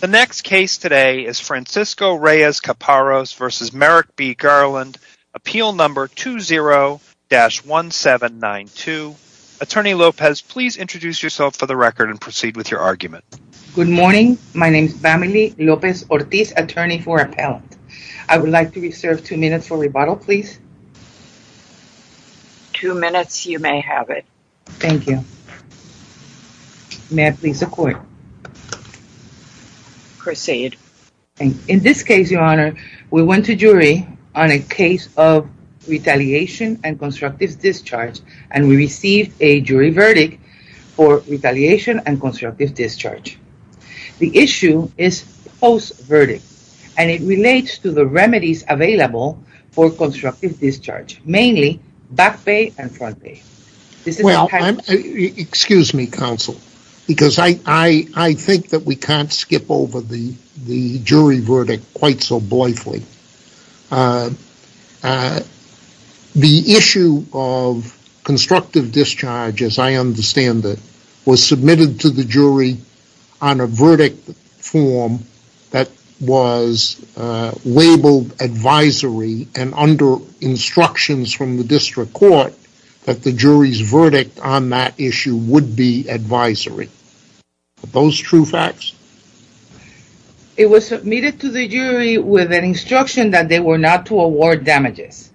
The next case today is Francisco Reyes-Caparros v. Merrick B. Garland, appeal number 20-1792. Attorney Lopez, please introduce yourself for the record and proceed with your argument. Good morning. My name is Vamily Lopez-Ortiz, attorney for appellant. I would like to reserve two minutes for rebuttal, please. Two minutes. You may have it. Thank you. May I please have the court? Chris Sayed. In this case, your honor, we went to jury on a case of retaliation and constructive discharge, and we received a jury verdict for retaliation and constructive discharge. The issue is post-verdict, and it relates to the remedies available for constructive discharge, mainly back pay and front pay. Well, excuse me, counsel, because I think that we can't skip over the jury verdict quite so blithely. The issue of constructive discharge, as I understand it, was submitted to the jury on a verdict form that was labeled advisory, and under instructions from the district court that the jury's verdict on that issue would be advisory. Are those true facts? It was submitted to the jury with an instruction that they were not to award damages.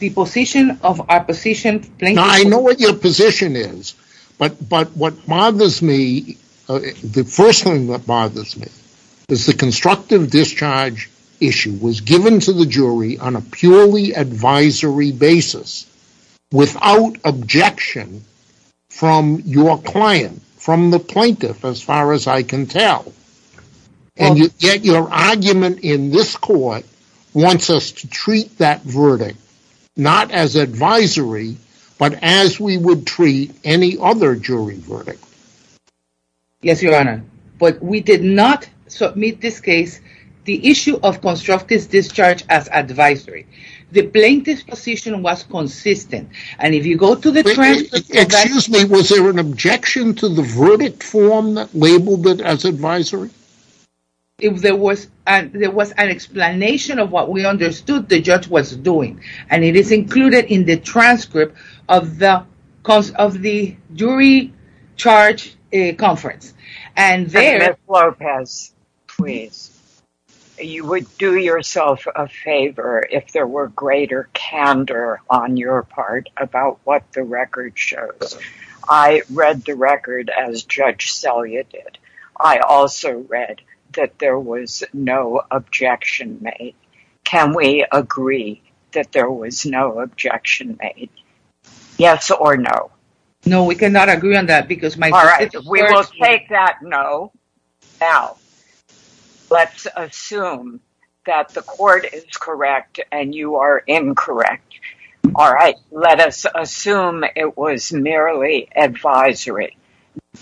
The position of our position plaintiffs... Now, I know what your position is, but what bothers me, the first thing that bothers me, is the constructive discharge issue was given to the jury on a purely advisory basis without objection from your client, from the plaintiff, as far as I can tell. And yet your argument in this court wants us to treat that verdict not as advisory, but as we would treat any other jury verdict. Yes, your honor, but we did not submit this case, the issue of constructive discharge, as advisory. The plaintiff's position was consistent, and if you go to the transcript... Excuse me, was there an objection to the verdict form that labeled it as advisory? There was an explanation of what we understood the judge was doing, and it is included in the transcript of the jury charge conference. Ms. Lopez, you would do yourself a favor if there were greater candor on your part about what the record shows. I read the record as Judge Selya did. I also read that there was no objection made. Can we agree that there was no objection made? Yes or no? No, we cannot agree on that because... All right, we will take that no. Now, let's assume that the court is correct and you are incorrect. All right, let us assume it was merely advisory.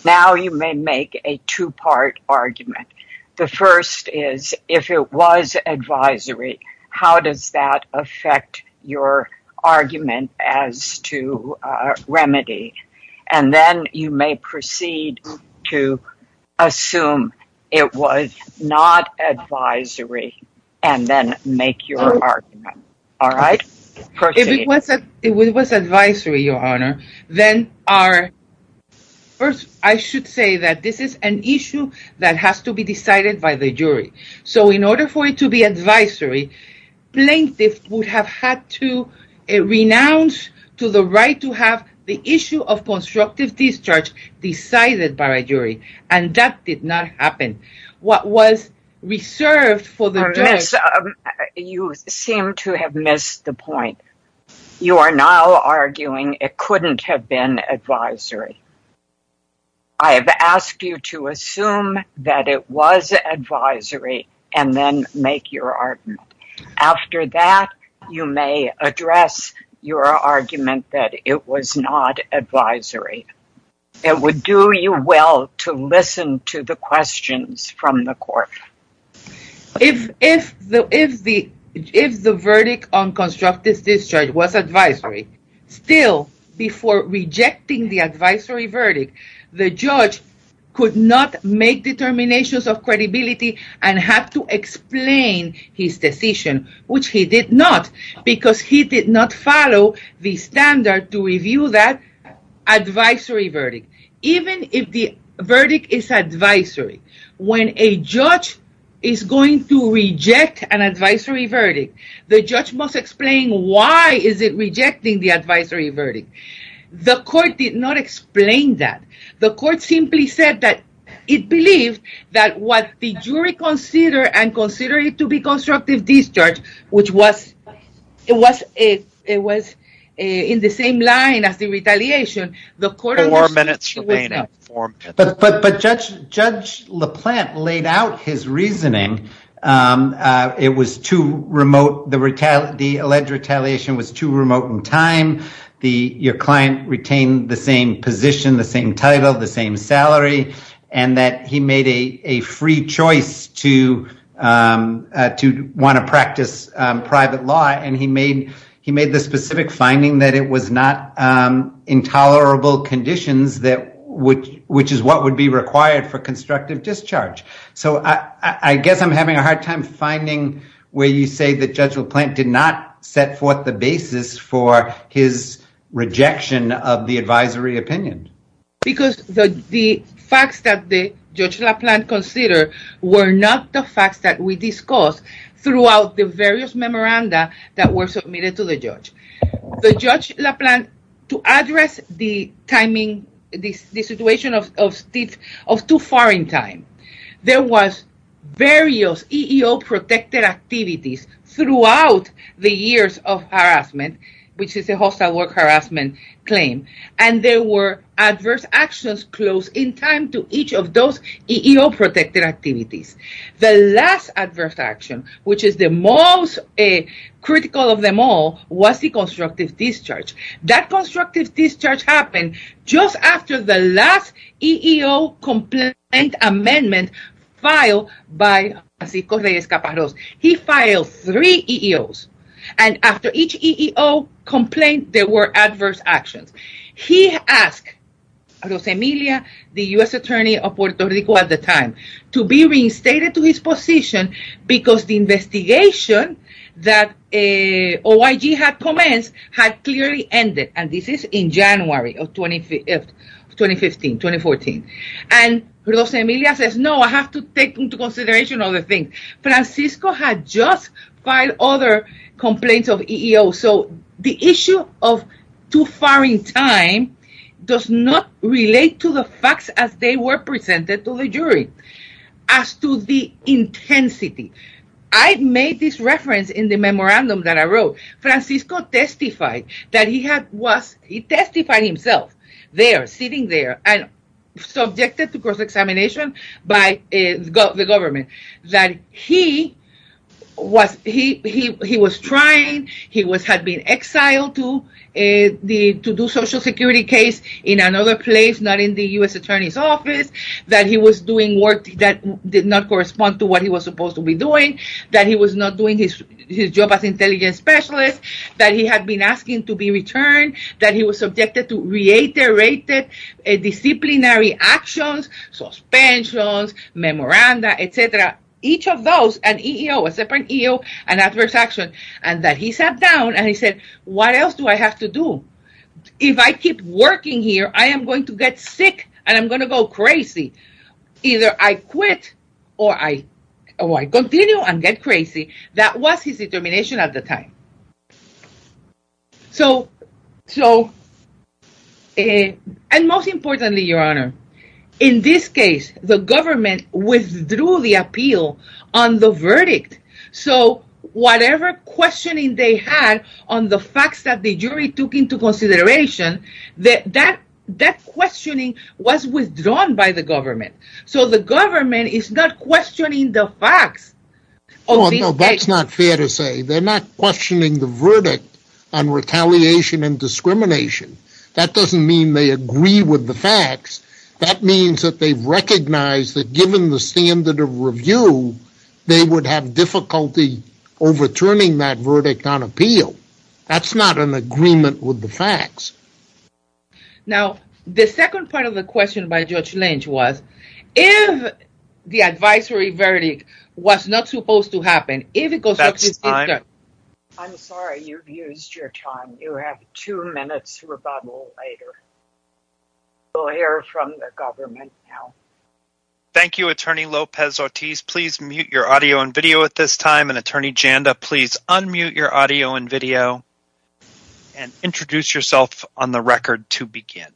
Now you may make a two-part argument. The first is, if it was advisory, how does that affect your argument as to remedy? And then you may proceed to assume it was not advisory and then make your argument. All right? If it was advisory, Your Honor, then our... First, I should say that this is an issue that has to be decided by the jury. So in order for it to be advisory, plaintiff would have had to renounce to the right to have the issue of constructive discharge decided by a jury, and that did not happen. What was reserved for the jury... Miss, you seem to have missed the point. You are now arguing it couldn't have been advisory. I have asked you to assume that it was advisory and then make your argument. If the verdict on constructive discharge was advisory, still, before rejecting the advisory verdict, the judge could not make determinations of credibility and have to explain his decision, which he did not, because he did not follow the standard to review that advisory verdict. Even if the verdict is advisory, when a judge is going to reject an advisory verdict, the judge must explain why is it rejecting the advisory verdict. The court did not explain that. The court simply said that it believed that what the jury considered and considered it to be constructive discharge, which was in the same line as the retaliation... Four minutes remaining. But Judge LaPlante laid out his reasoning. It was too remote. The alleged retaliation was too remote in time. Your client retained the same position, the same title, the same salary, and that he made a free choice to want to practice private law, and he made the specific finding that it was not intolerable conditions, which is what would be required for constructive discharge. I guess I'm having a hard time finding where you say that Judge LaPlante did not set forth the basis for his rejection of the advisory opinion. Because the facts that Judge LaPlante considered were not the facts that we discussed throughout the various memoranda that were submitted to the judge. The judge LaPlante, to address the timing, the situation of too far in time, there was various EEO protected activities throughout the years of harassment, which is a hostile work harassment claim, and there were adverse actions close in time to each of those EEO protected activities. The last adverse action, which is the most critical of them all, was the constructive discharge. That constructive discharge happened just after the last EEO complaint amendment filed by Francisco Reyes-Caparros. He filed three EEOs, and after each EEO complaint there were adverse actions. He asked Rosemilla, the U.S. attorney of Puerto Rico at the time, to be reinstated to his position because the investigation that OIG had commenced had clearly ended, and this is in January of 2015, 2014. And Rosemilla says, no, I have to take into consideration other things. Francisco had just filed other complaints of EEOs, so the issue of too far in time does not relate to the facts as they were presented to the jury as to the intensity. I made this reference in the memorandum that I wrote. Francisco testified that he had was – he testified himself there, sitting there, and subjected to cross-examination by the government, that he was trying, he had been exiled to do social security case in another place, not in the U.S. attorney's office, that he was doing work that did not correspond to what he was supposed to be doing, that he was not doing his job as intelligence specialist, that he had been asking to be returned, that he was subjected to reiterated disciplinary actions, suspensions, memoranda, etc. Each of those, an EEO, a separate EEO, an adverse action, and that he sat down and he said, what else do I have to do? If I keep working here, I am going to get sick and I'm going to go crazy. Either I quit or I continue and get crazy. That was his determination at the time. So, and most importantly, your honor, in this case, the government withdrew the appeal on the verdict. So, whatever questioning they had on the facts that the jury took into consideration, that questioning was withdrawn by the government. So, the government is not questioning the facts. Oh, no, that's not fair to say. They're not questioning the verdict on retaliation and discrimination. That doesn't mean they agree with the facts. That means that they've recognized that given the standard of review, they would have difficulty overturning that verdict on appeal. That's not an agreement with the facts. Now, the second part of the question by Judge Lynch was, if the advisory verdict was not supposed to happen, if it goes up to the district… That's time. I'm sorry, you've used your time. You have two minutes rebuttal later. We'll hear from the government now. Thank you, Attorney Lopez-Ortiz. Please mute your audio and video at this time. And, Attorney Janda, please unmute your audio and video and introduce yourself on the record to begin.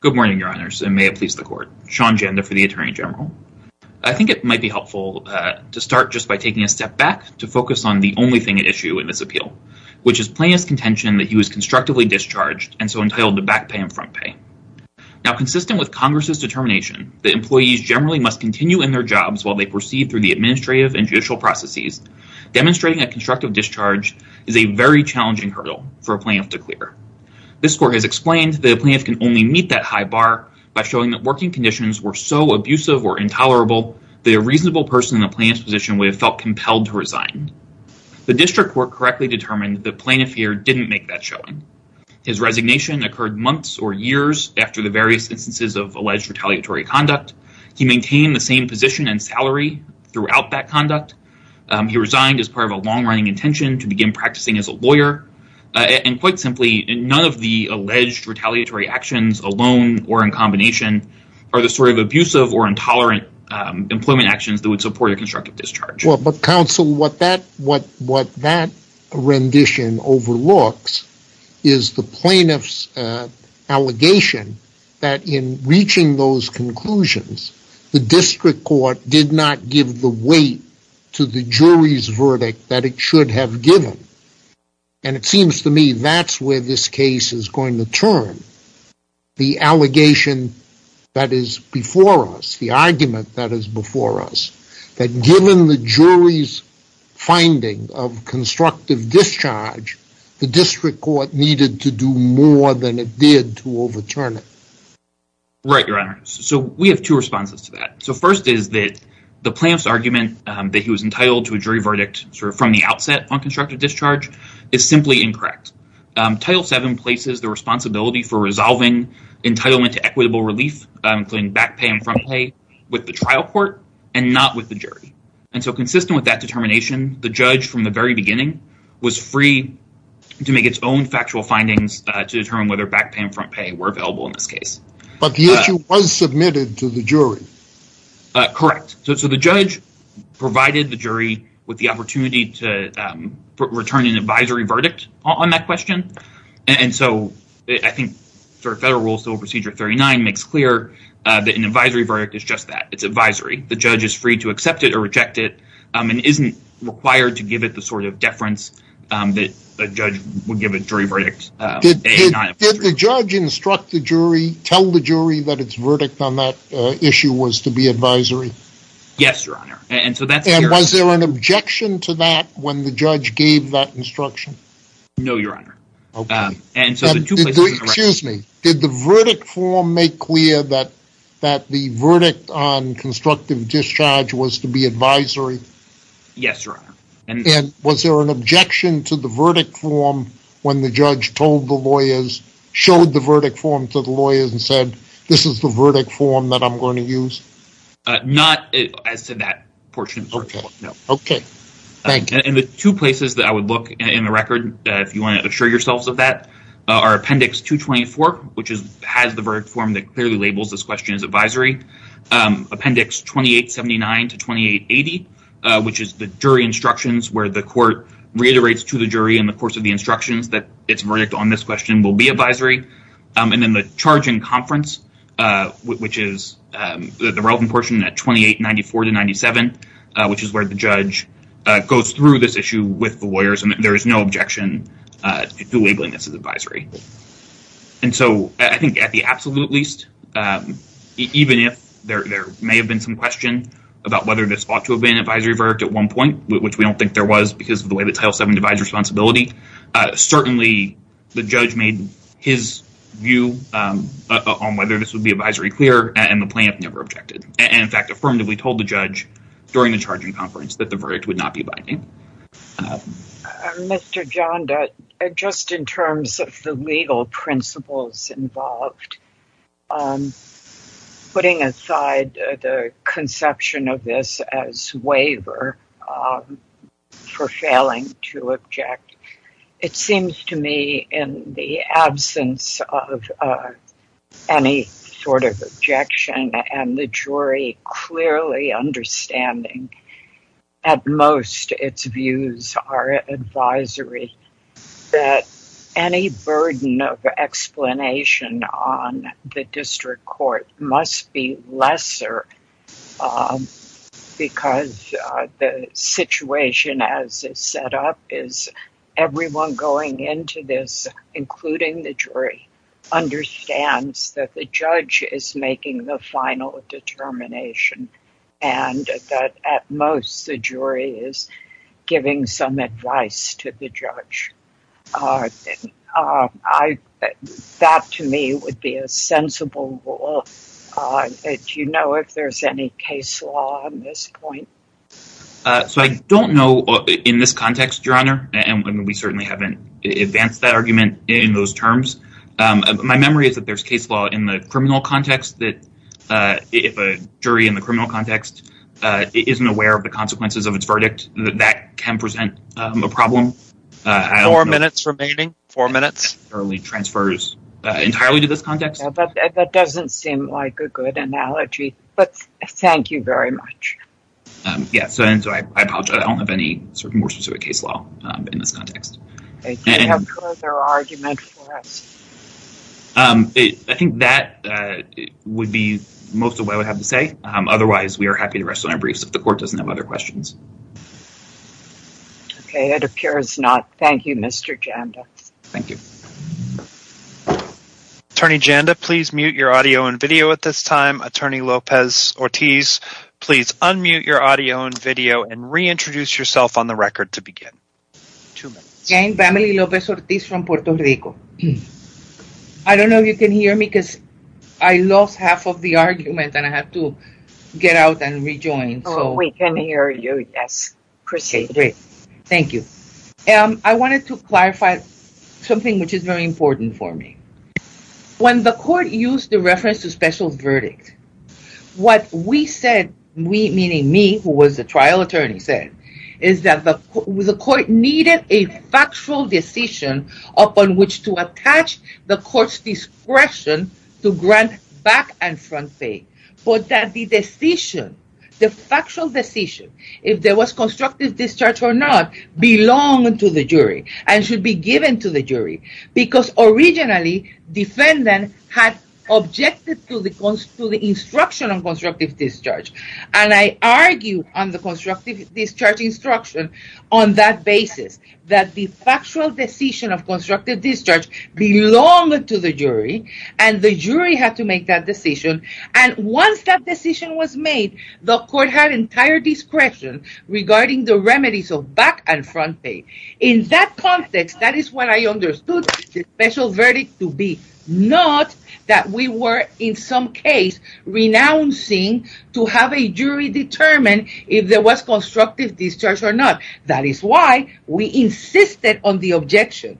Good morning, your honors, and may it please the court. Sean Janda for the Attorney General. I think it might be helpful to start just by taking a step back to focus on the only thing at issue in this appeal, which is plaintiff's contention that he was constructively discharged and so entitled to back pay and front pay. Now, consistent with Congress's determination that employees generally must continue in their jobs while they proceed through the administrative and judicial processes, demonstrating a constructive discharge is a very challenging hurdle for a plaintiff to clear. This court has explained that a plaintiff can only meet that high bar by showing that working conditions were so abusive or intolerable that a reasonable person in a plaintiff's position would have felt compelled to resign. The district court correctly determined that the plaintiff here didn't make that showing. His resignation occurred months or years after the various instances of alleged retaliatory conduct. He maintained the same position and salary throughout that conduct. He resigned as part of a long-running intention to begin practicing as a lawyer. And quite simply, none of the alleged retaliatory actions alone or in combination are the sort of abusive or intolerant employment actions that would support a constructive discharge. Well, but counsel, what that rendition overlooks is the plaintiff's allegation that in reaching those conclusions, the district court did not give the weight to the jury's verdict that it should have given. And it seems to me that's where this case is going to turn, the allegation that is before us, the argument that is before us, that given the jury's finding of constructive discharge, the district court needed to do more than it did to overturn it. Right, Your Honor. So we have two responses to that. So first is that the plaintiff's argument that he was entitled to a jury verdict from the outset on constructive discharge is simply incorrect. Title VII places the responsibility for resolving entitlement to equitable relief, including back pay and front pay, with the trial court and not with the jury. And so consistent with that determination, the judge from the very beginning was free to make its own factual findings to determine whether back pay and front pay were available in this case. But the issue was submitted to the jury. Correct. So the judge provided the jury with the opportunity to return an advisory verdict on that question. And so I think Federal Rule Civil Procedure 39 makes clear that an advisory verdict is just that. It's advisory. The judge is free to accept it or reject it and isn't required to give it the sort of deference that a judge would give a jury verdict. Did the judge instruct the jury, tell the jury that its verdict on that issue was to be advisory? Yes, Your Honor. And was there an objection to that when the judge gave that instruction? No, Your Honor. Okay. Excuse me. Did the verdict form make clear that the verdict on constructive discharge was to be advisory? Yes, Your Honor. And was there an objection to the verdict form when the judge showed the verdict form to the lawyers and said, this is the verdict form that I'm going to use? Not as to that portion. Okay. No. Okay. Thank you. And the two places that I would look in the record, if you want to assure yourselves of that, are Appendix 224, which has the verdict form that clearly labels this question as advisory. Appendix 2879 to 2880, which is the jury instructions where the court reiterates to the jury in the course of the instructions that its verdict on this question will be advisory. And then the charge in conference, which is the relevant portion at 2894 to 97, which is where the judge goes through this issue with the lawyers, and there is no objection to labeling this as advisory. And so I think at the absolute least, even if there may have been some question about whether this ought to have been an advisory verdict at one point, which we don't think there was because of the way that Title VII divides responsibility, certainly the judge made his view on whether this would be advisory clear, and the plaintiff never objected. And in fact, affirmatively told the judge during the charge in conference that the verdict would not be advisory. Mr. John, just in terms of the legal principles involved, putting aside the conception of this as waiver for failing to object, it seems to me in the absence of any sort of objection and the jury clearly understanding at most its views are advisory, that any burden of explanation on the district court must be lesser because the situation as it's set up is everyone going into this, including the jury, understands that the judge is making the final determination and that at most the jury is giving some advice to the judge. That to me would be a sensible rule. Do you know if there's any case law on this point? So I don't know in this context, Your Honor, and we certainly haven't advanced that argument in those terms. My memory is that there's case law in the criminal context that if a jury in the criminal context isn't aware of the consequences of its verdict, that can present a problem. Four minutes remaining. Four minutes. Transfer entirely to this context. That doesn't seem like a good analogy, but thank you very much. Yes, I apologize. I don't have any more specific case law in this context. Do you have further argument for us? I think that would be most of what I would have to say. Otherwise, we are happy to rest on our briefs if the court doesn't have other questions. Okay, it appears not. Thank you, Mr. Janda. Thank you. Attorney Janda, please mute your audio and video at this time. Attorney Lopez-Ortiz, please unmute your audio and video and reintroduce yourself on the record to begin. Jane, Vamily Lopez-Ortiz from Puerto Rico. I don't know if you can hear me because I lost half of the argument and I have to get out and rejoin. We can hear you, yes. Proceed. Great. Thank you. I wanted to clarify something which is very important for me. When the court used the reference to special verdict, what we said, we meaning me who was the trial attorney said, is that the court needed a factual decision upon which to attach the court's discretion to grant back and front pay. But that the decision, the factual decision, if there was constructive discharge or not, belonged to the jury and should be given to the jury. Because originally, defendant had objected to the instruction of constructive discharge. And I argue on the constructive discharge instruction on that basis. That the factual decision of constructive discharge belonged to the jury and the jury had to make that decision. And once that decision was made, the court had entire discretion regarding the remedies of back and front pay. In that context, that is what I understood the special verdict to be. Not that we were in some case renouncing to have a jury determine if there was constructive discharge or not. That is why we insisted on the objection.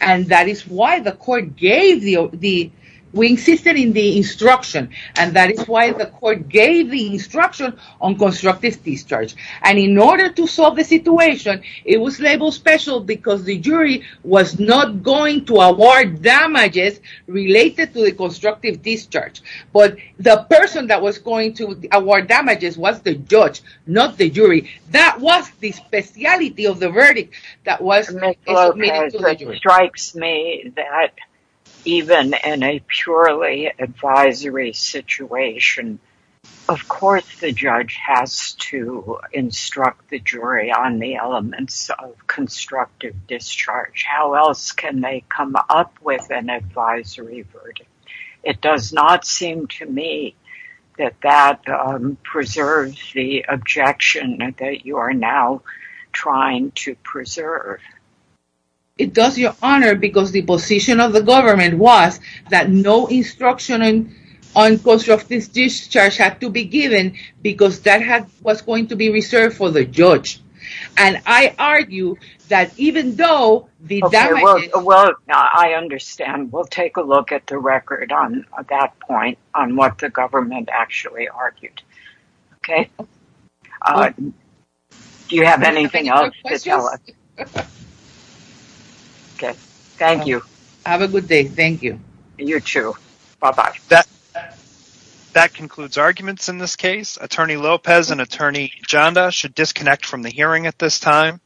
And that is why the court gave the, we insisted in the instruction. And that is why the court gave the instruction on constructive discharge. And in order to solve the situation, it was labeled special because the jury was not going to award damages related to the constructive discharge. But the person that was going to award damages was the judge, not the jury. That was the speciality of the verdict that was submitted to the jury. It strikes me that even in a purely advisory situation, of course the judge has to instruct the jury on the elements of constructive discharge. How else can they come up with an advisory verdict? It does not seem to me that that preserves the objection that you are now trying to preserve. It does, Your Honor, because the position of the government was that no instruction on constructive discharge had to be given because that was going to be reserved for the judge. And I argue that even though the damages... Well, I understand. We'll take a look at the record on that point on what the government actually argued. Okay. Do you have anything else? Okay. Thank you. Have a good day. Thank you. You too. Bye-bye. That concludes arguments in this case. Attorney Lopez and Attorney Janda should disconnect from the hearing at this time.